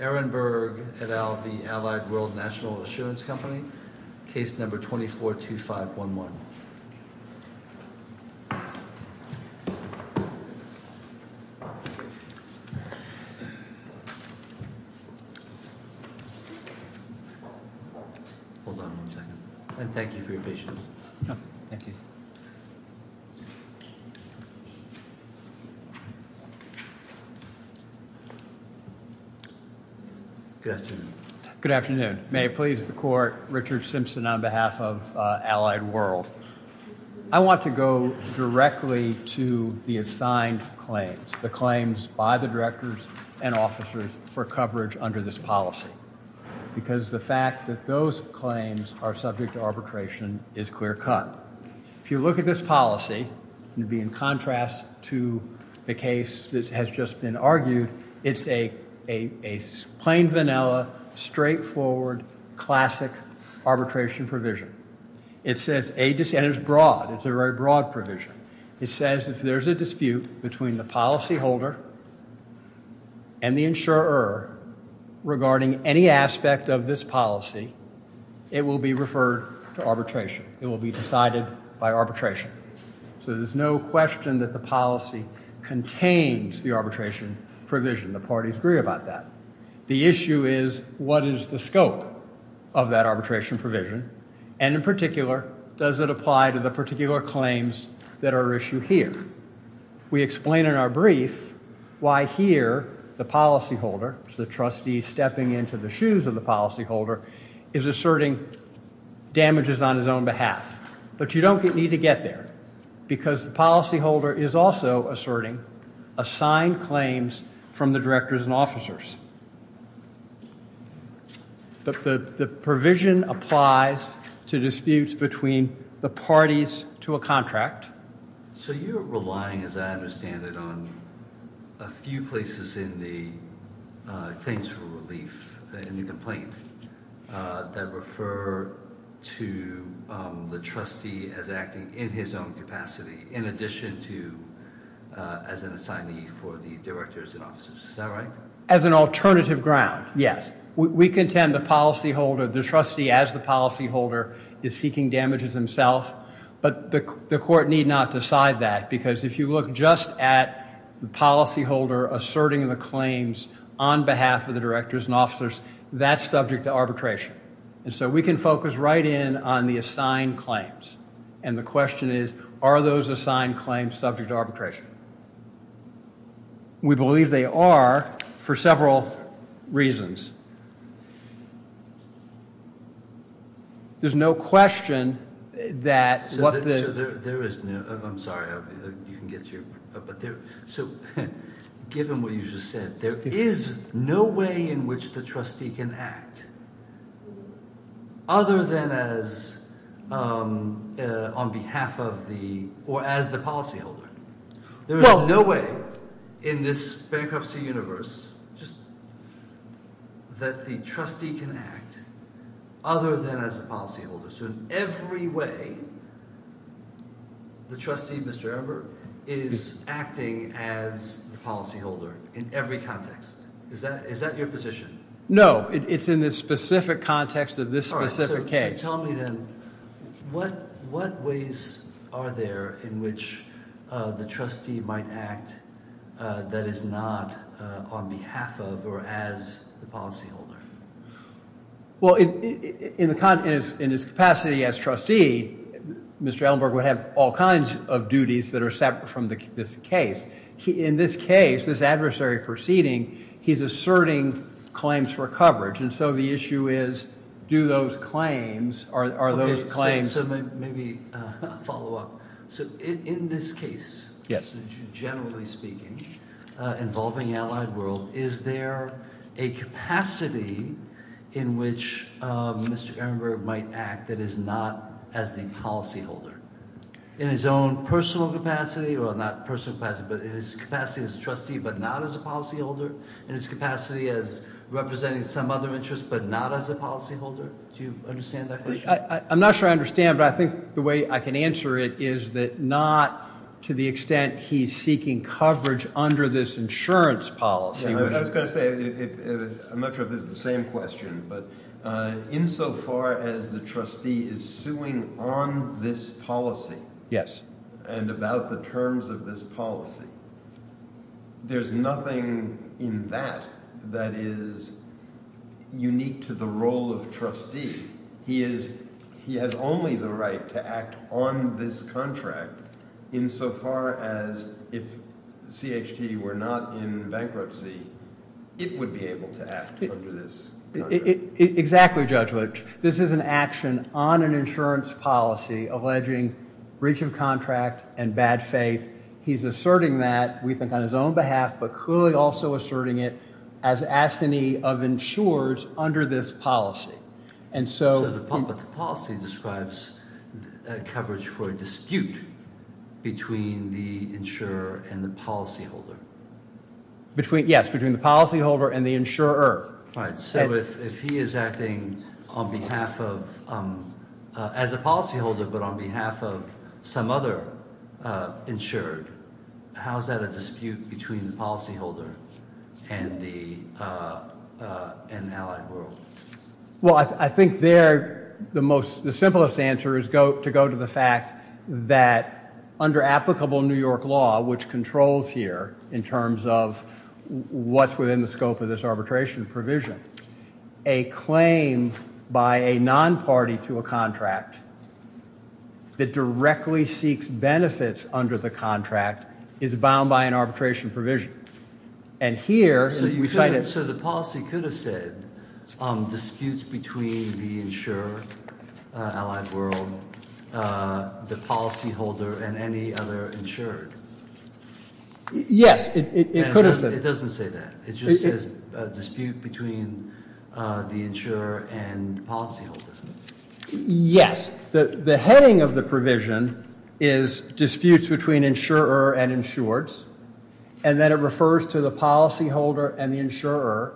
Aaron Berg, et al., the Allied World National Assurance Company, case number 242511. Hold on one second. And thank you for your patience. Thank you. Good afternoon. Good afternoon. May it please the court, Richard Simpson on behalf of Allied World. I want to go directly to the assigned claims, the claims by the directors and officers for coverage under this policy. Because the fact that those claims are subject to arbitration is clear cut. If you look at this policy, it would be in contrast to the case that has just been argued. It's a plain, vanilla, straightforward, classic arbitration provision. It's a very broad provision. It says if there's a dispute between the policyholder and the insurer regarding any aspect of this policy, it will be referred to arbitration. It will be decided by arbitration. So there's no question that the policy contains the arbitration provision. The parties agree about that. The issue is what is the scope of that arbitration provision? And in particular, does it apply to the particular claims that are issued here? We explain in our brief why here the policyholder, the trustee stepping into the shoes of the policyholder, is asserting damages on his own behalf. But you don't need to get there. Because the policyholder is also asserting assigned claims from the directors and officers. But the provision applies to disputes between the parties to a contract. So you're relying, as I understand it, on a few places in the claims for relief, in the complaint, that refer to the trustee as acting in his own capacity, in addition to as an assignee for the directors and officers. Is that right? As an alternative ground, yes. We contend the policyholder, the trustee as the policyholder, is seeking damages himself. But the court need not decide that. Because if you look just at the policyholder asserting the claims on behalf of the directors and officers, that's subject to arbitration. And so we can focus right in on the assigned claims. And the question is, are those assigned claims subject to arbitration? We believe they are for several reasons. There's no question that what the... So there is no... I'm sorry, you can get to your... But there... So given what you just said, there is no way in which the trustee can act other than as... on behalf of the... or as the policyholder. There is no way in this bankruptcy universe, just... that the trustee can act other than as a policyholder. So in every way, the trustee, Mr. Ember, is acting as the policyholder in every context. Is that your position? No. It's in the specific context of this specific case. All right. So tell me then, what ways are there in which the trustee might act that is not on behalf of or as the policyholder? Well, in his capacity as trustee, Mr. Ember would have all kinds of duties that are separate from this case. In this case, this adversary proceeding, he's asserting claims for coverage. And so the issue is, do those claims... are those claims... Okay. So maybe follow up. So in this case, generally speaking, involving allied world, is there a capacity in which Mr. Ember might act that is not as the policyholder? In his own personal capacity or not personal capacity, but in his capacity as a trustee but not as a policyholder? In his capacity as representing some other interest but not as a policyholder? Do you understand that question? I'm not sure I understand, but I think the way I can answer it is that not to the extent he's seeking coverage under this insurance policy... I was going to say, I'm not sure if it's the same question, but insofar as the trustee is suing on this policy... Yes. ...and about the terms of this policy, there's nothing in that that is unique to the role of trustee. He is... he has only the right to act on this contract insofar as if CHT were not in bankruptcy, it would be able to act under this contract. Exactly, Judge Lipsch. This is an action on an insurance policy alleging breach of contract and bad faith. He's asserting that, we think on his own behalf, but clearly also asserting it as assignee of insurers under this policy. But the policy describes coverage for a dispute between the insurer and the policyholder. Yes, between the policyholder and the insurer. Right, so if he is acting on behalf of... as a policyholder but on behalf of some other insured, how is that a dispute between the policyholder and the allied world? Well, I think there the simplest answer is to go to the fact that under applicable New York law, which controls here in terms of what's within the scope of this arbitration provision, a claim by a non-party to a contract that directly seeks benefits under the contract is bound by an arbitration provision. And here... So the policy could have said, disputes between the insurer, allied world, the policyholder and any other insured. Yes, it could have said. It doesn't say that. It just says dispute between the insurer and policyholder. Yes, the heading of the provision is disputes between insurer and insureds. And then it refers to the policyholder and the insurer.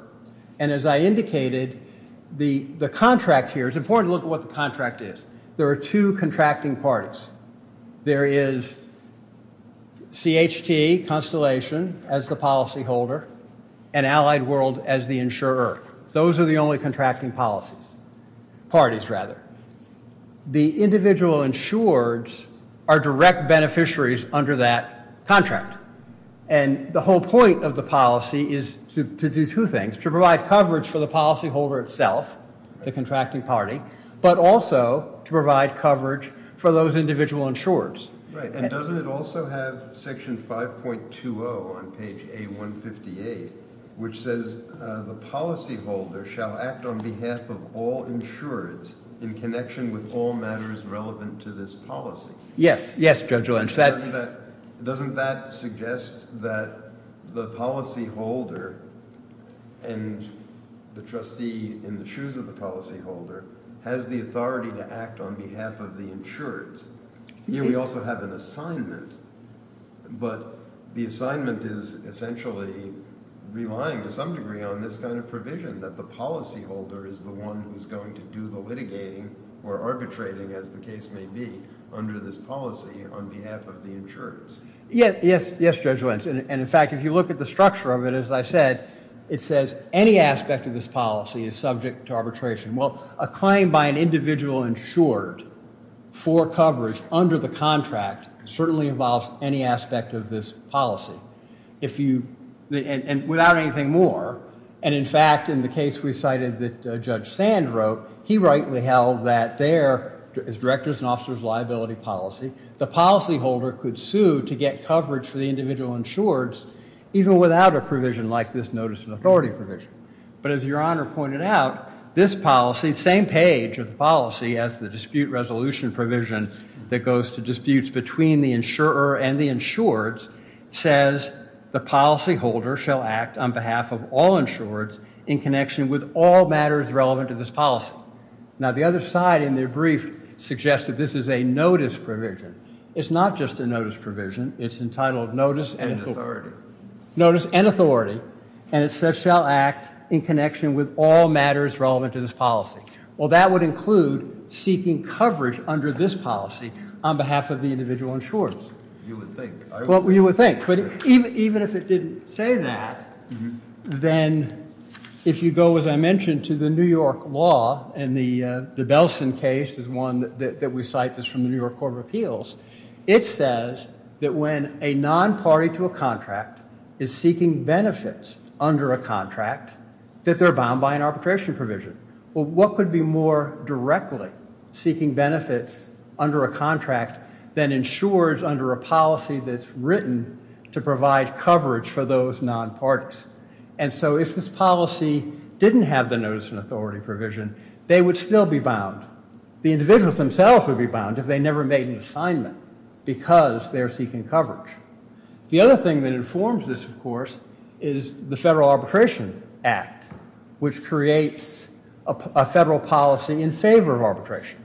And as I indicated, the contract here... It's important to look at what the contract is. There are two contracting parties. There is CHT, Constellation, as the policyholder and Allied World as the insurer. Those are the only contracting policies... parties rather. The individual insureds are direct beneficiaries under that contract. And the whole point of the policy is to do two things. To provide coverage for the policyholder itself, the contracting party, but also to provide coverage for those individual insureds. Right. And doesn't it also have section 5.20 on page A158 which says the policyholder shall act on behalf of all insureds in connection with all matters relevant to this policy? Yes. Yes, Judge Lynch. Doesn't that suggest that the policyholder and the trustee in the shoes of the policyholder has the authority to act on behalf of the insureds? Here we also have an assignment, but the assignment is essentially relying to some degree on this kind of provision that the policyholder is the one who is going to do the litigating or arbitrating as the case may be under this policy on behalf of the insureds. Yes, Judge Lynch. And in fact, if you look at the structure of it, as I said, it says any aspect of this policy is subject to arbitration. Well, a claim by an individual insured for coverage under the contract certainly involves any aspect of this policy. If you... and without anything more. And in fact, in the case we cited that Judge Sand wrote, he rightly held that there, as directors and officers of liability policy, the policyholder could sue to get coverage for the individual insureds even without a provision like this notice of authority provision. But as Your Honor pointed out, this policy, the same page of the policy as the dispute resolution provision that goes to disputes between the insurer and the insureds, says the policyholder shall act on behalf of all insureds in connection with all matters relevant to this policy. Now, the other side in their brief suggests that this is a notice provision. It's not just a notice provision. It's entitled notice and authority. Notice and authority. And it says shall act in connection with all matters relevant to this policy. Well, that would include seeking coverage under this policy on behalf of the individual insureds. You would think. Well, you would think. But even if it didn't say that, then if you go, as I mentioned, to the New York law and the Belson case is one that we cite that's from the New York Court of Appeals, it says that when a non-party to a contract is seeking benefits under a contract that they're bound by an arbitration provision. Well, what could be more directly seeking benefits under a contract than insureds under a policy that's written to provide coverage for those non-parties? And so if this policy didn't have the notice and authority provision, they would still be bound. The individuals themselves would be bound if they never made an assignment because they're seeking coverage. The other thing that informs this, of course, is the Federal Arbitration Act, which creates a federal policy in favor of arbitration.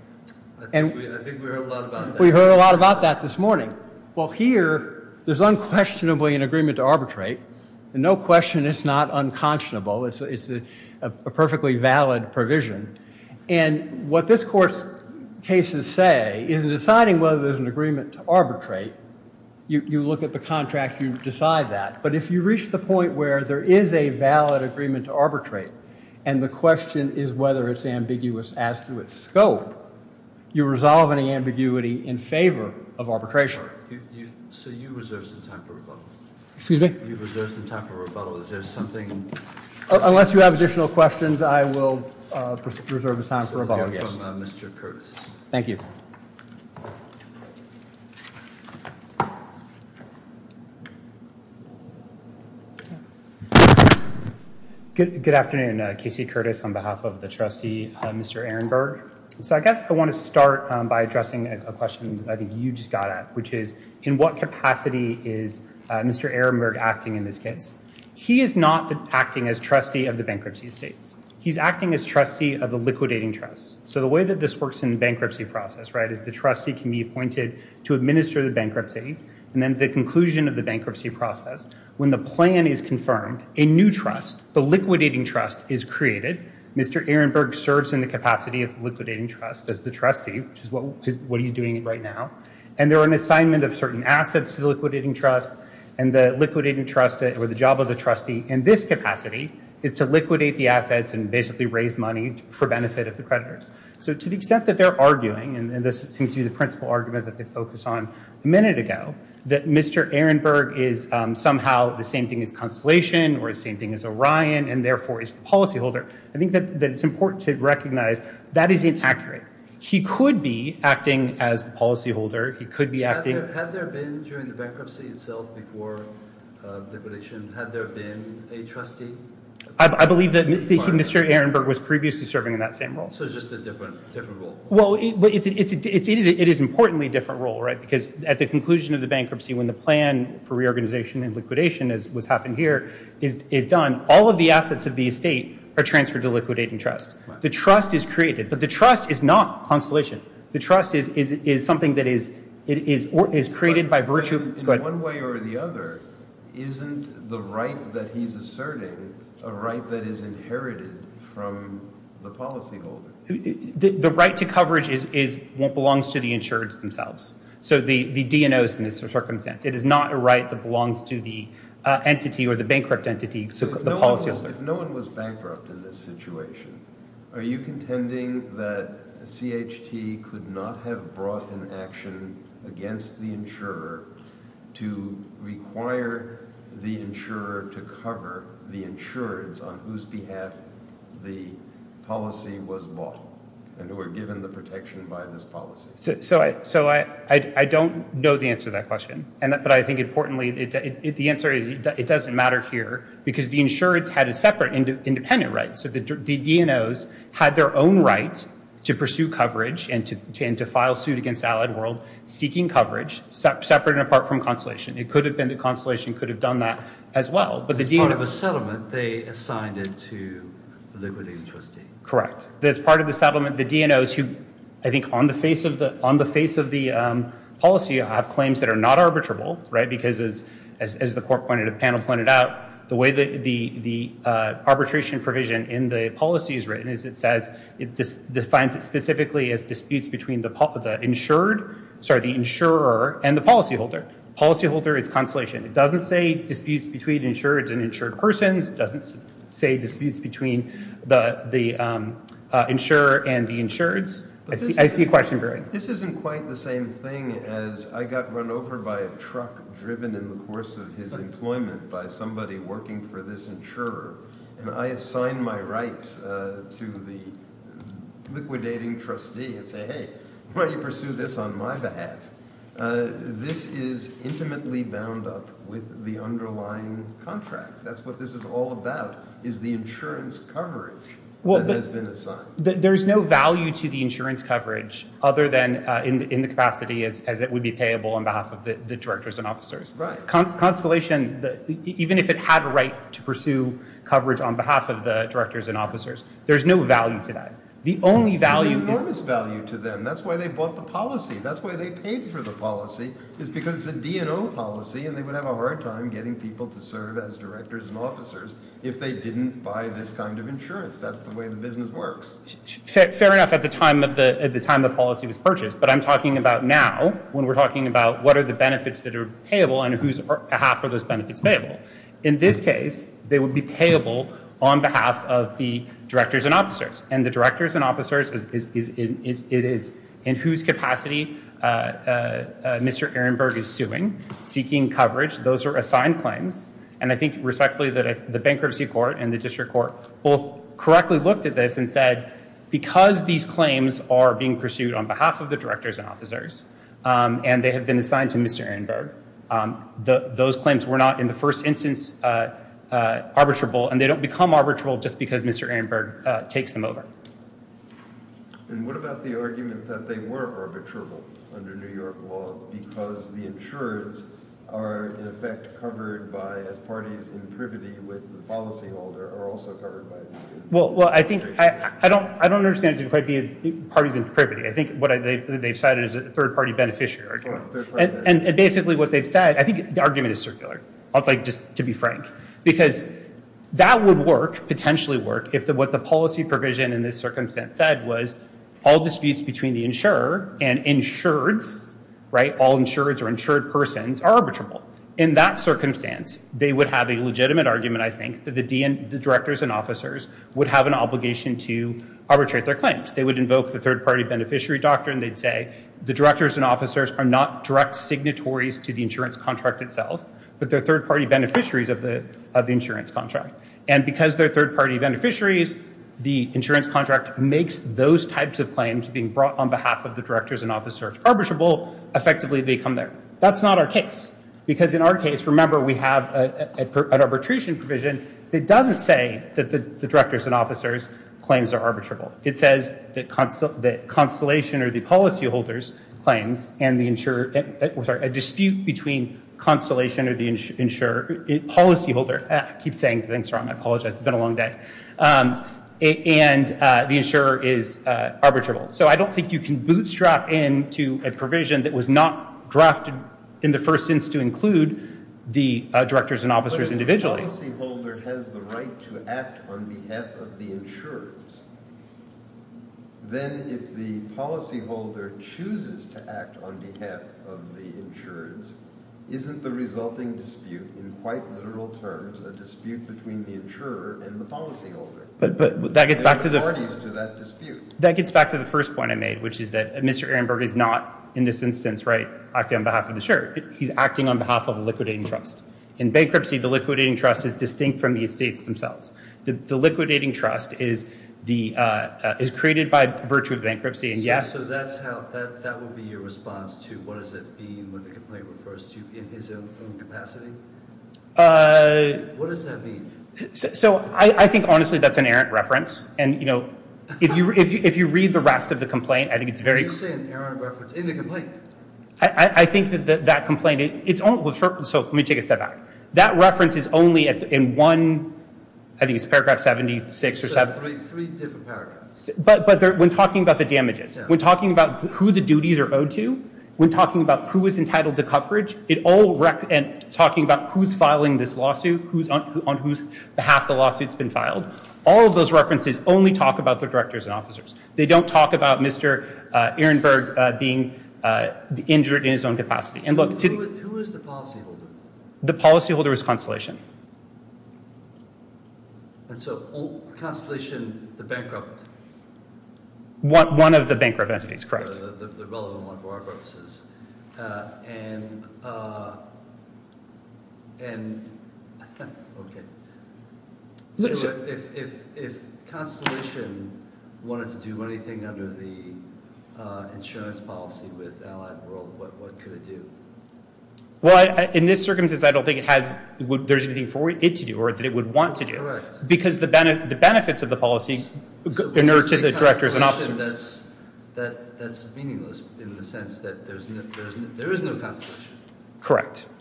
I think we heard a lot about that. We heard a lot about that this morning. Well, here there's unquestionably an agreement to arbitrate. And no question it's not unconscionable. It's a perfectly valid provision. And what this Court's cases say is in deciding whether there's an agreement to arbitrate, you look at the contract, you decide that. But if you reach the point where there is a valid agreement to arbitrate and the question is whether it's ambiguous as to its scope, you resolve any ambiguity in favor of arbitration. So you reserve some time for rebuttal. Excuse me? You reserve some time for rebuttal. Is there something? Unless you have additional questions, I will reserve the time for rebuttal. From Mr. Curtis. Thank you. Good afternoon. Casey Curtis on behalf of the trustee, Mr. Ehrenberg. So I guess I want to start by addressing a question I think you just got at, which is in what capacity is Mr. Ehrenberg acting in this case? He is not acting as trustee of the bankruptcy estates. He's acting as trustee of the liquidating trusts. So the way that this works in the bankruptcy process, right, is the trustee can be appointed to administer the bankruptcy and then the conclusion of the bankruptcy process, when the plan is confirmed, a new trust, the liquidating trust, is created. Mr. Ehrenberg serves in the capacity of the liquidating trust as the trustee, which is what he's doing right now. And there are an assignment of certain assets to the liquidating trust. And the liquidating trust, or the job of the trustee in this capacity is to liquidate the assets and basically raise money for benefit of the creditors. So to the extent that they're arguing, and this seems to be the principal argument that they focused on a minute ago, that Mr. Ehrenberg is somehow the same thing as Constellation or the same thing as Orion and therefore is the policyholder, I think that it's important to recognize that is inaccurate. He could be acting as the policyholder. He could be acting... Had there been during the bankruptcy itself before liquidation, had there been a trustee? I believe that Mr. Ehrenberg was previously serving in that same role. So it's just a different role? Well, it is importantly a different role, right? Because at the conclusion of the bankruptcy, when the plan for reorganization and liquidation as what's happened here is done, all of the assets of the estate are transferred to the liquidating trust. The trust is created, but the trust is not Constellation. It is created by virtue... In one way or the other, isn't the right that he's asserting a right that is inherited from the policyholder? The right to coverage belongs to the insured themselves. So the DNOs in this circumstance. It is not a right that belongs to the entity or the bankrupt entity, the policyholder. If no one was bankrupt in this situation, are you contending that CHT could not have brought an action against the insurer to require the insurer to cover the insureds on whose behalf the policy was bought and who were given the protection by this policy? So I don't know the answer to that question, but I think importantly, the answer is it doesn't matter here because the insureds had a separate independent right. So the DNOs had their own right to pursue coverage and to file suit against Allied World seeking coverage separate and apart from consolation. It could have been that consolation could have done that as well, but the DNOs... As part of a settlement, they assigned it to the Liberty Trustee. Correct. As part of the settlement, the DNOs who, I think on the face of the policy have claims that are not arbitrable, right, because as the panel pointed out, the way the arbitration provision in the policy is written is it says it defines it specifically as disputes between the insured, sorry, the insurer and the policyholder. Policyholder is consolation. It doesn't say disputes between insureds and insured persons. It doesn't say disputes between the insurer and the insureds. I see your question, Barry. This isn't quite the same thing as I got run over by a truck driven in the course of his employment by somebody working for this insurer and I gave my rights to the liquidating trustee and say, hey, why don't you pursue this on my behalf? This is intimately bound up with the underlying contract. That's what this is all about is the insurance coverage that has been assigned. There's no value to the insurance coverage other than in the capacity as it would be payable on behalf of the directors and officers. Right. Consolation, even if it had a right to pursue coverage on behalf of the directors and officers, there's no value to that. There's enormous value to them. That's why they bought the policy. That's why they paid for the policy is because it's a D&O policy and they would have a hard time getting people to serve as directors and officers if they didn't buy this kind of insurance. That's the way the business works. Fair enough at the time the policy was purchased, but I'm talking about now it would be payable on behalf of the directors and officers. And the directors and officers, it is in whose capacity Mr. Ehrenberg is suing, seeking coverage. Those are assigned claims. And I think respectfully that the bankruptcy court and the district court both correctly looked at this and said because these claims are being pursued on behalf of the directors and officers and they have been assigned to Mr. Ehrenberg, those claims were not arbitrable and they don't become arbitrable just because Mr. Ehrenberg takes them over. And what about the argument that they were arbitrable under New York law because the insurers are in effect covered by as parties in privity with the policyholder are also covered by it? Well, I think I don't understand parties in privity. I think what they've cited is a third-party beneficiary. And basically what they've said I think the argument is circular. I'd like just to be frank because that would work, potentially work if what the policy provision in this circumstance said was all disputes between the insurer and insureds, right? All insureds or insured persons are arbitrable. In that circumstance, they would have a legitimate argument I think that the directors and officers would have an obligation to arbitrate their claims. They would invoke the third-party beneficiary doctrine. They'd say the directors and officers are not direct signatories to the insurance contract itself because they're third-party beneficiaries of the insurance contract. And because they're third-party beneficiaries, the insurance contract makes those types of claims being brought on behalf of the directors and officers arbitrable effectively become there. That's not our case because in our case, remember we have an arbitration provision that doesn't say that the directors and officers claims are arbitrable. It says that constellation or the policyholders claims and the insurer sorry, a dispute between the insurer and the policyholder I keep saying things wrong. I apologize. It's been a long day. And the insurer is arbitrable. So I don't think you can bootstrap into a provision that was not drafted in the first sense to include the directors and officers individually. If the policyholder has the right to act on behalf of the insurance, then if the policyholder chooses to act on behalf of the insurance, isn't the resulting dispute in quite literal terms a dispute between the insurer and the policyholder? There are authorities to that dispute. That gets back to the first point I made which is that Mr. Ehrenberg is not in this instance acting on behalf of the insurer. He's acting on behalf of the liquidating trust. In bankruptcy, the liquidating trust is distinct from the estates themselves. The liquidating trust is created by virtue of bankruptcy and yes... So that would be your response to what does it mean when the complaint refers to in his own capacity? What does that mean? So I think honestly that's an errant reference and you know if you read the rest of the complaint I think it's very... You say an errant reference in the complaint? I think that that complaint it's only... So let me take a step back. That reference is only in one... I think it's paragraph 76 or seven... Three different paragraphs. But when talking about the damages, when talking about who the duties are owed to, when talking about who is entitled to coverage, it all... And talking about who's filing this lawsuit, on whose behalf the lawsuit's been filed. All of those references only talk about the directors and officers. They don't talk about Mr. Ehrenberg being injured in his own capacity. And look... Who is the policy holder? The policy holder is Constellation. And so Constellation, the bankrupt... One of the bankrupt entities, correct. The relevant one for our purposes. And... And... Okay. So if... If Constellation wanted to do anything under the insurance policy with Allied World, what could it do? Well, in this circumstance I don't think it has... There's anything for it to do or that it would want to do. Correct. Because the benefits of the policy in order to the directors and officers... That's meaningless in the sense that there is no Constellation.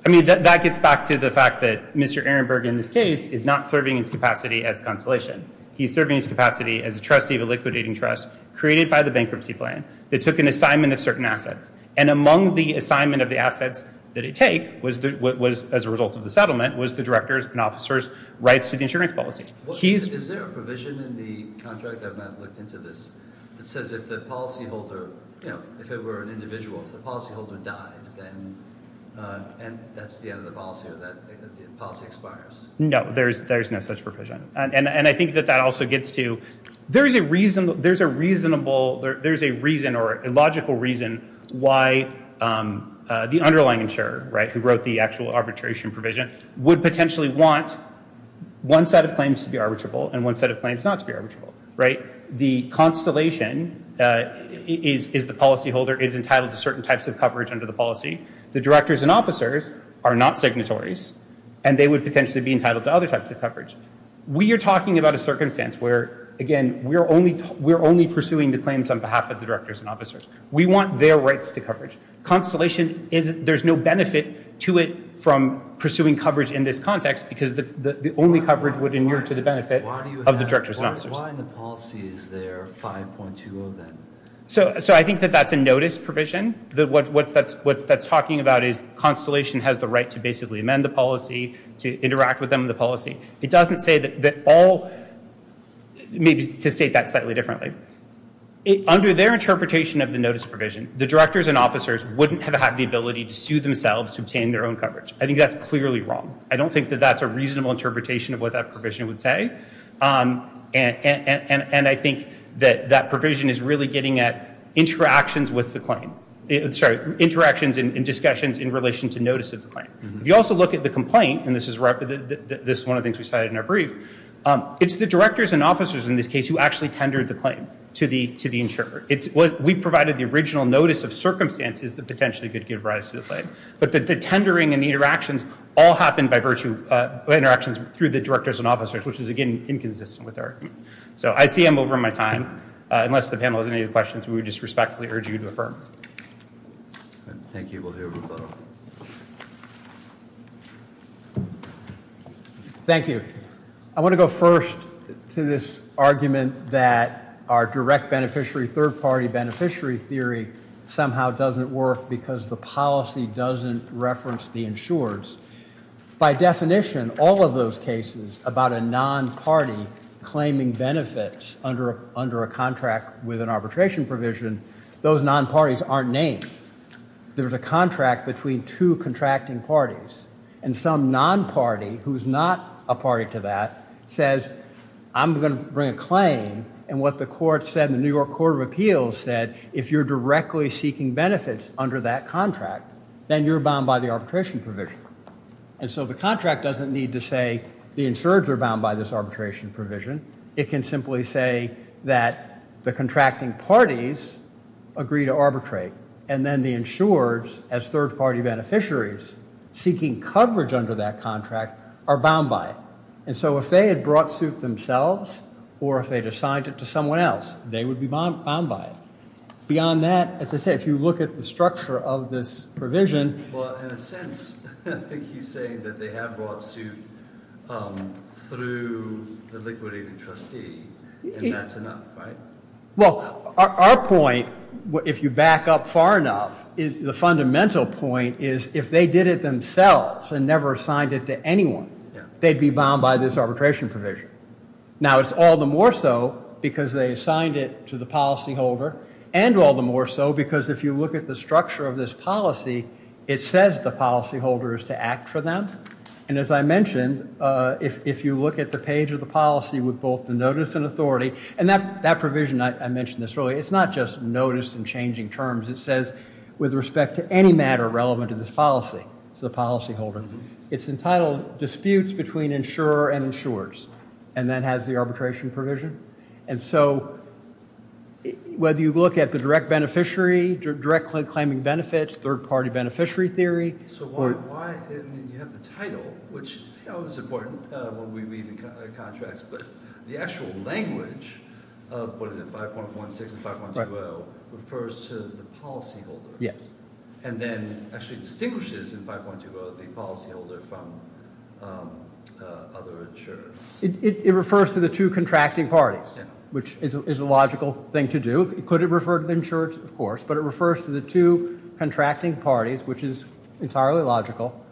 I mean, that gets back to the fact that Mr. Ehrenberg in this case is not serving his capacity as Constellation. He's serving his capacity as a trustee of a liquidating trust created by the bankruptcy plan that took an assignment of certain assets. And among the assignment of the assets that it take was as a result of the settlement was the directors and officers' rights to the insurance policy. Is there a provision in the contract I've not looked into this that says if the policy holder... If the policy holder dies then... And that's the end of the policy or that the policy expires? No. There's no such provision. And I think that that also gets to... There is a reason... There's a reasonable... There's a reason or a logical reason why the underlying insurer who wrote the actual arbitration provision would potentially want one set of claims to be arbitrable and one set of claims not to be arbitrable. The Constellation is the policy holder. It is entitled to certain types of coverage under the policy. The directors and officers are not signatories and they would potentially be entitled to other types of coverage. We are talking about a circumstance where, again, we're only pursuing the claims on behalf of the directors and officers. We want their rights to coverage. Constellation is... There's no benefit to it from pursuing coverage in this context because the only coverage would inherit to the benefit of the directors and officers. Why in the policy is there 5.2 of them? I think that that's a notice provision. What that's talking about is Constellation has the right to basically amend the policy, to interact with them in the policy. It doesn't say that all... Maybe to state that slightly differently. Under their interpretation of the notice provision, the directors and officers wouldn't have had the ability to sue themselves to obtain their own coverage. I think that's clearly wrong. I don't think that that's a reasonable interpretation of what that provision would say. And I think that that provision is really getting at interactions with the claim. Interactions and discussions in relation to notice of the claim. If you also look at the complaint, and this is one of the things we cited in our brief, it's the directors and officers in this case who actually tendered the claim to the insurer. We provided the original notice of circumstances that potentially could give rise to the claim. But the tendering and the interactions all happened by virtue... Interactions through the directors and officers, which is, again, inconsistent with our... So I see I'm over my time. Unless the panel has any other questions, we would just respectfully urge you to affirm. Thank you. We'll hear from both. Thank you. I want to go first to this argument that our direct beneficiary, third-party beneficiary theory somehow doesn't work because the policy doesn't reference the insurers. By definition, all of those cases about a non-party claiming benefits under a contract with an arbitration provision, those non-parties aren't named. There's a contract between two contracting parties and some non-party who's not a party to that says, I'm going to bring a claim and what the court said, the New York Court of Appeals said, if you're directly seeking benefits under that contract, then you're bound by the arbitration provision. The contract doesn't need to say the insurers are bound by this arbitration provision. It can simply say that the contracting parties agree to and then the insurers as third-party beneficiaries seeking coverage under that are bound by it. If they had brought suit themselves or if they'd assigned it to someone else, they would be bound by it. Beyond that, as I said, if you look at the structure of this provision... Well, in a sense, I think he's saying that they have brought suit through the liquidating trustee and that's enough, right? Well, our point, if you back up far enough, the fundamental point is if they did it themselves and never assigned it to anyone, they'd be bound by this arbitration provision. Now, it's all the more so because they assigned it to the policyholder and all the more so because if you look at the structure of this policy, it says the policyholder is to act for the benefit policyholder. It's entitled disputes between insurer and insurers and then has the arbitration provision. And so, whether you look at the direct beneficiary, direct claiming benefits, third-party beneficiary theory... So, why didn't you have the which, you know, is important when we read the contracts, but the actual language of what is it, 5.16 and 5.20 refers to the policyholder and then actually distinguishes in 5.20 the policyholder from other insurers. It refers to the two contracting parties, which is entirely logical,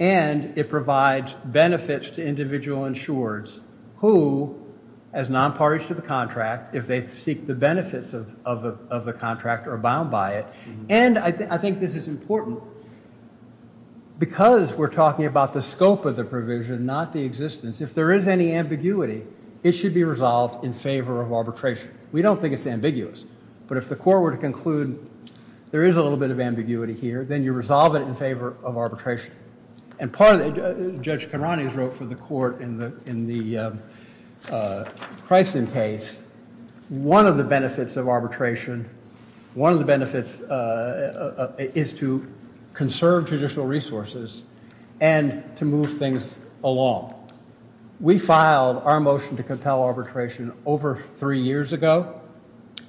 and it provides benefits to individual insurers who, as nonparties to the contract, if they seek the benefits of the contract are bound by it. And I think this is important because we're talking about the scope of the provision, not the existence. If there is any ambiguity, it should be in favor of We don't think it's ambiguous, but if the court were to there is a little bit of here, then you resolve it in favor of arbitration. And part of Judge Conrony wrote for the court in the Chryston case, one of the of arbitration is to conserve judicial resources and to move things along. We filed our motion to arbitration over three years ago.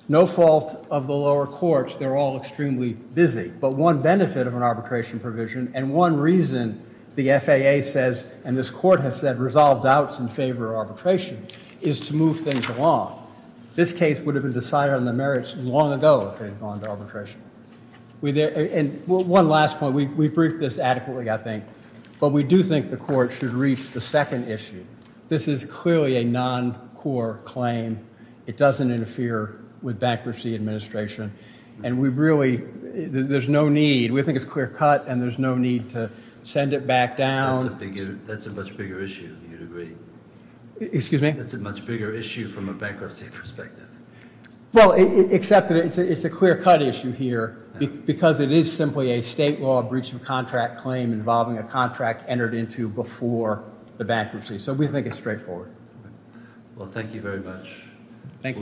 No fault of the lower courts, they're all extremely busy, but one benefit of an arbitration provision and one reason the FAA says and this court has said resolve doubts in favor of arbitration is to move things along. This case would have been decided on the merits long ago if they had gone to court. We think it's clear cut and there's no need to send it back down. That's a much bigger issue. That's a much bigger issue from a bankruptcy perspective. It's a clear cut issue here because it is simply a state law breach of contract claim involving a contract entered into before the FAA could that Thank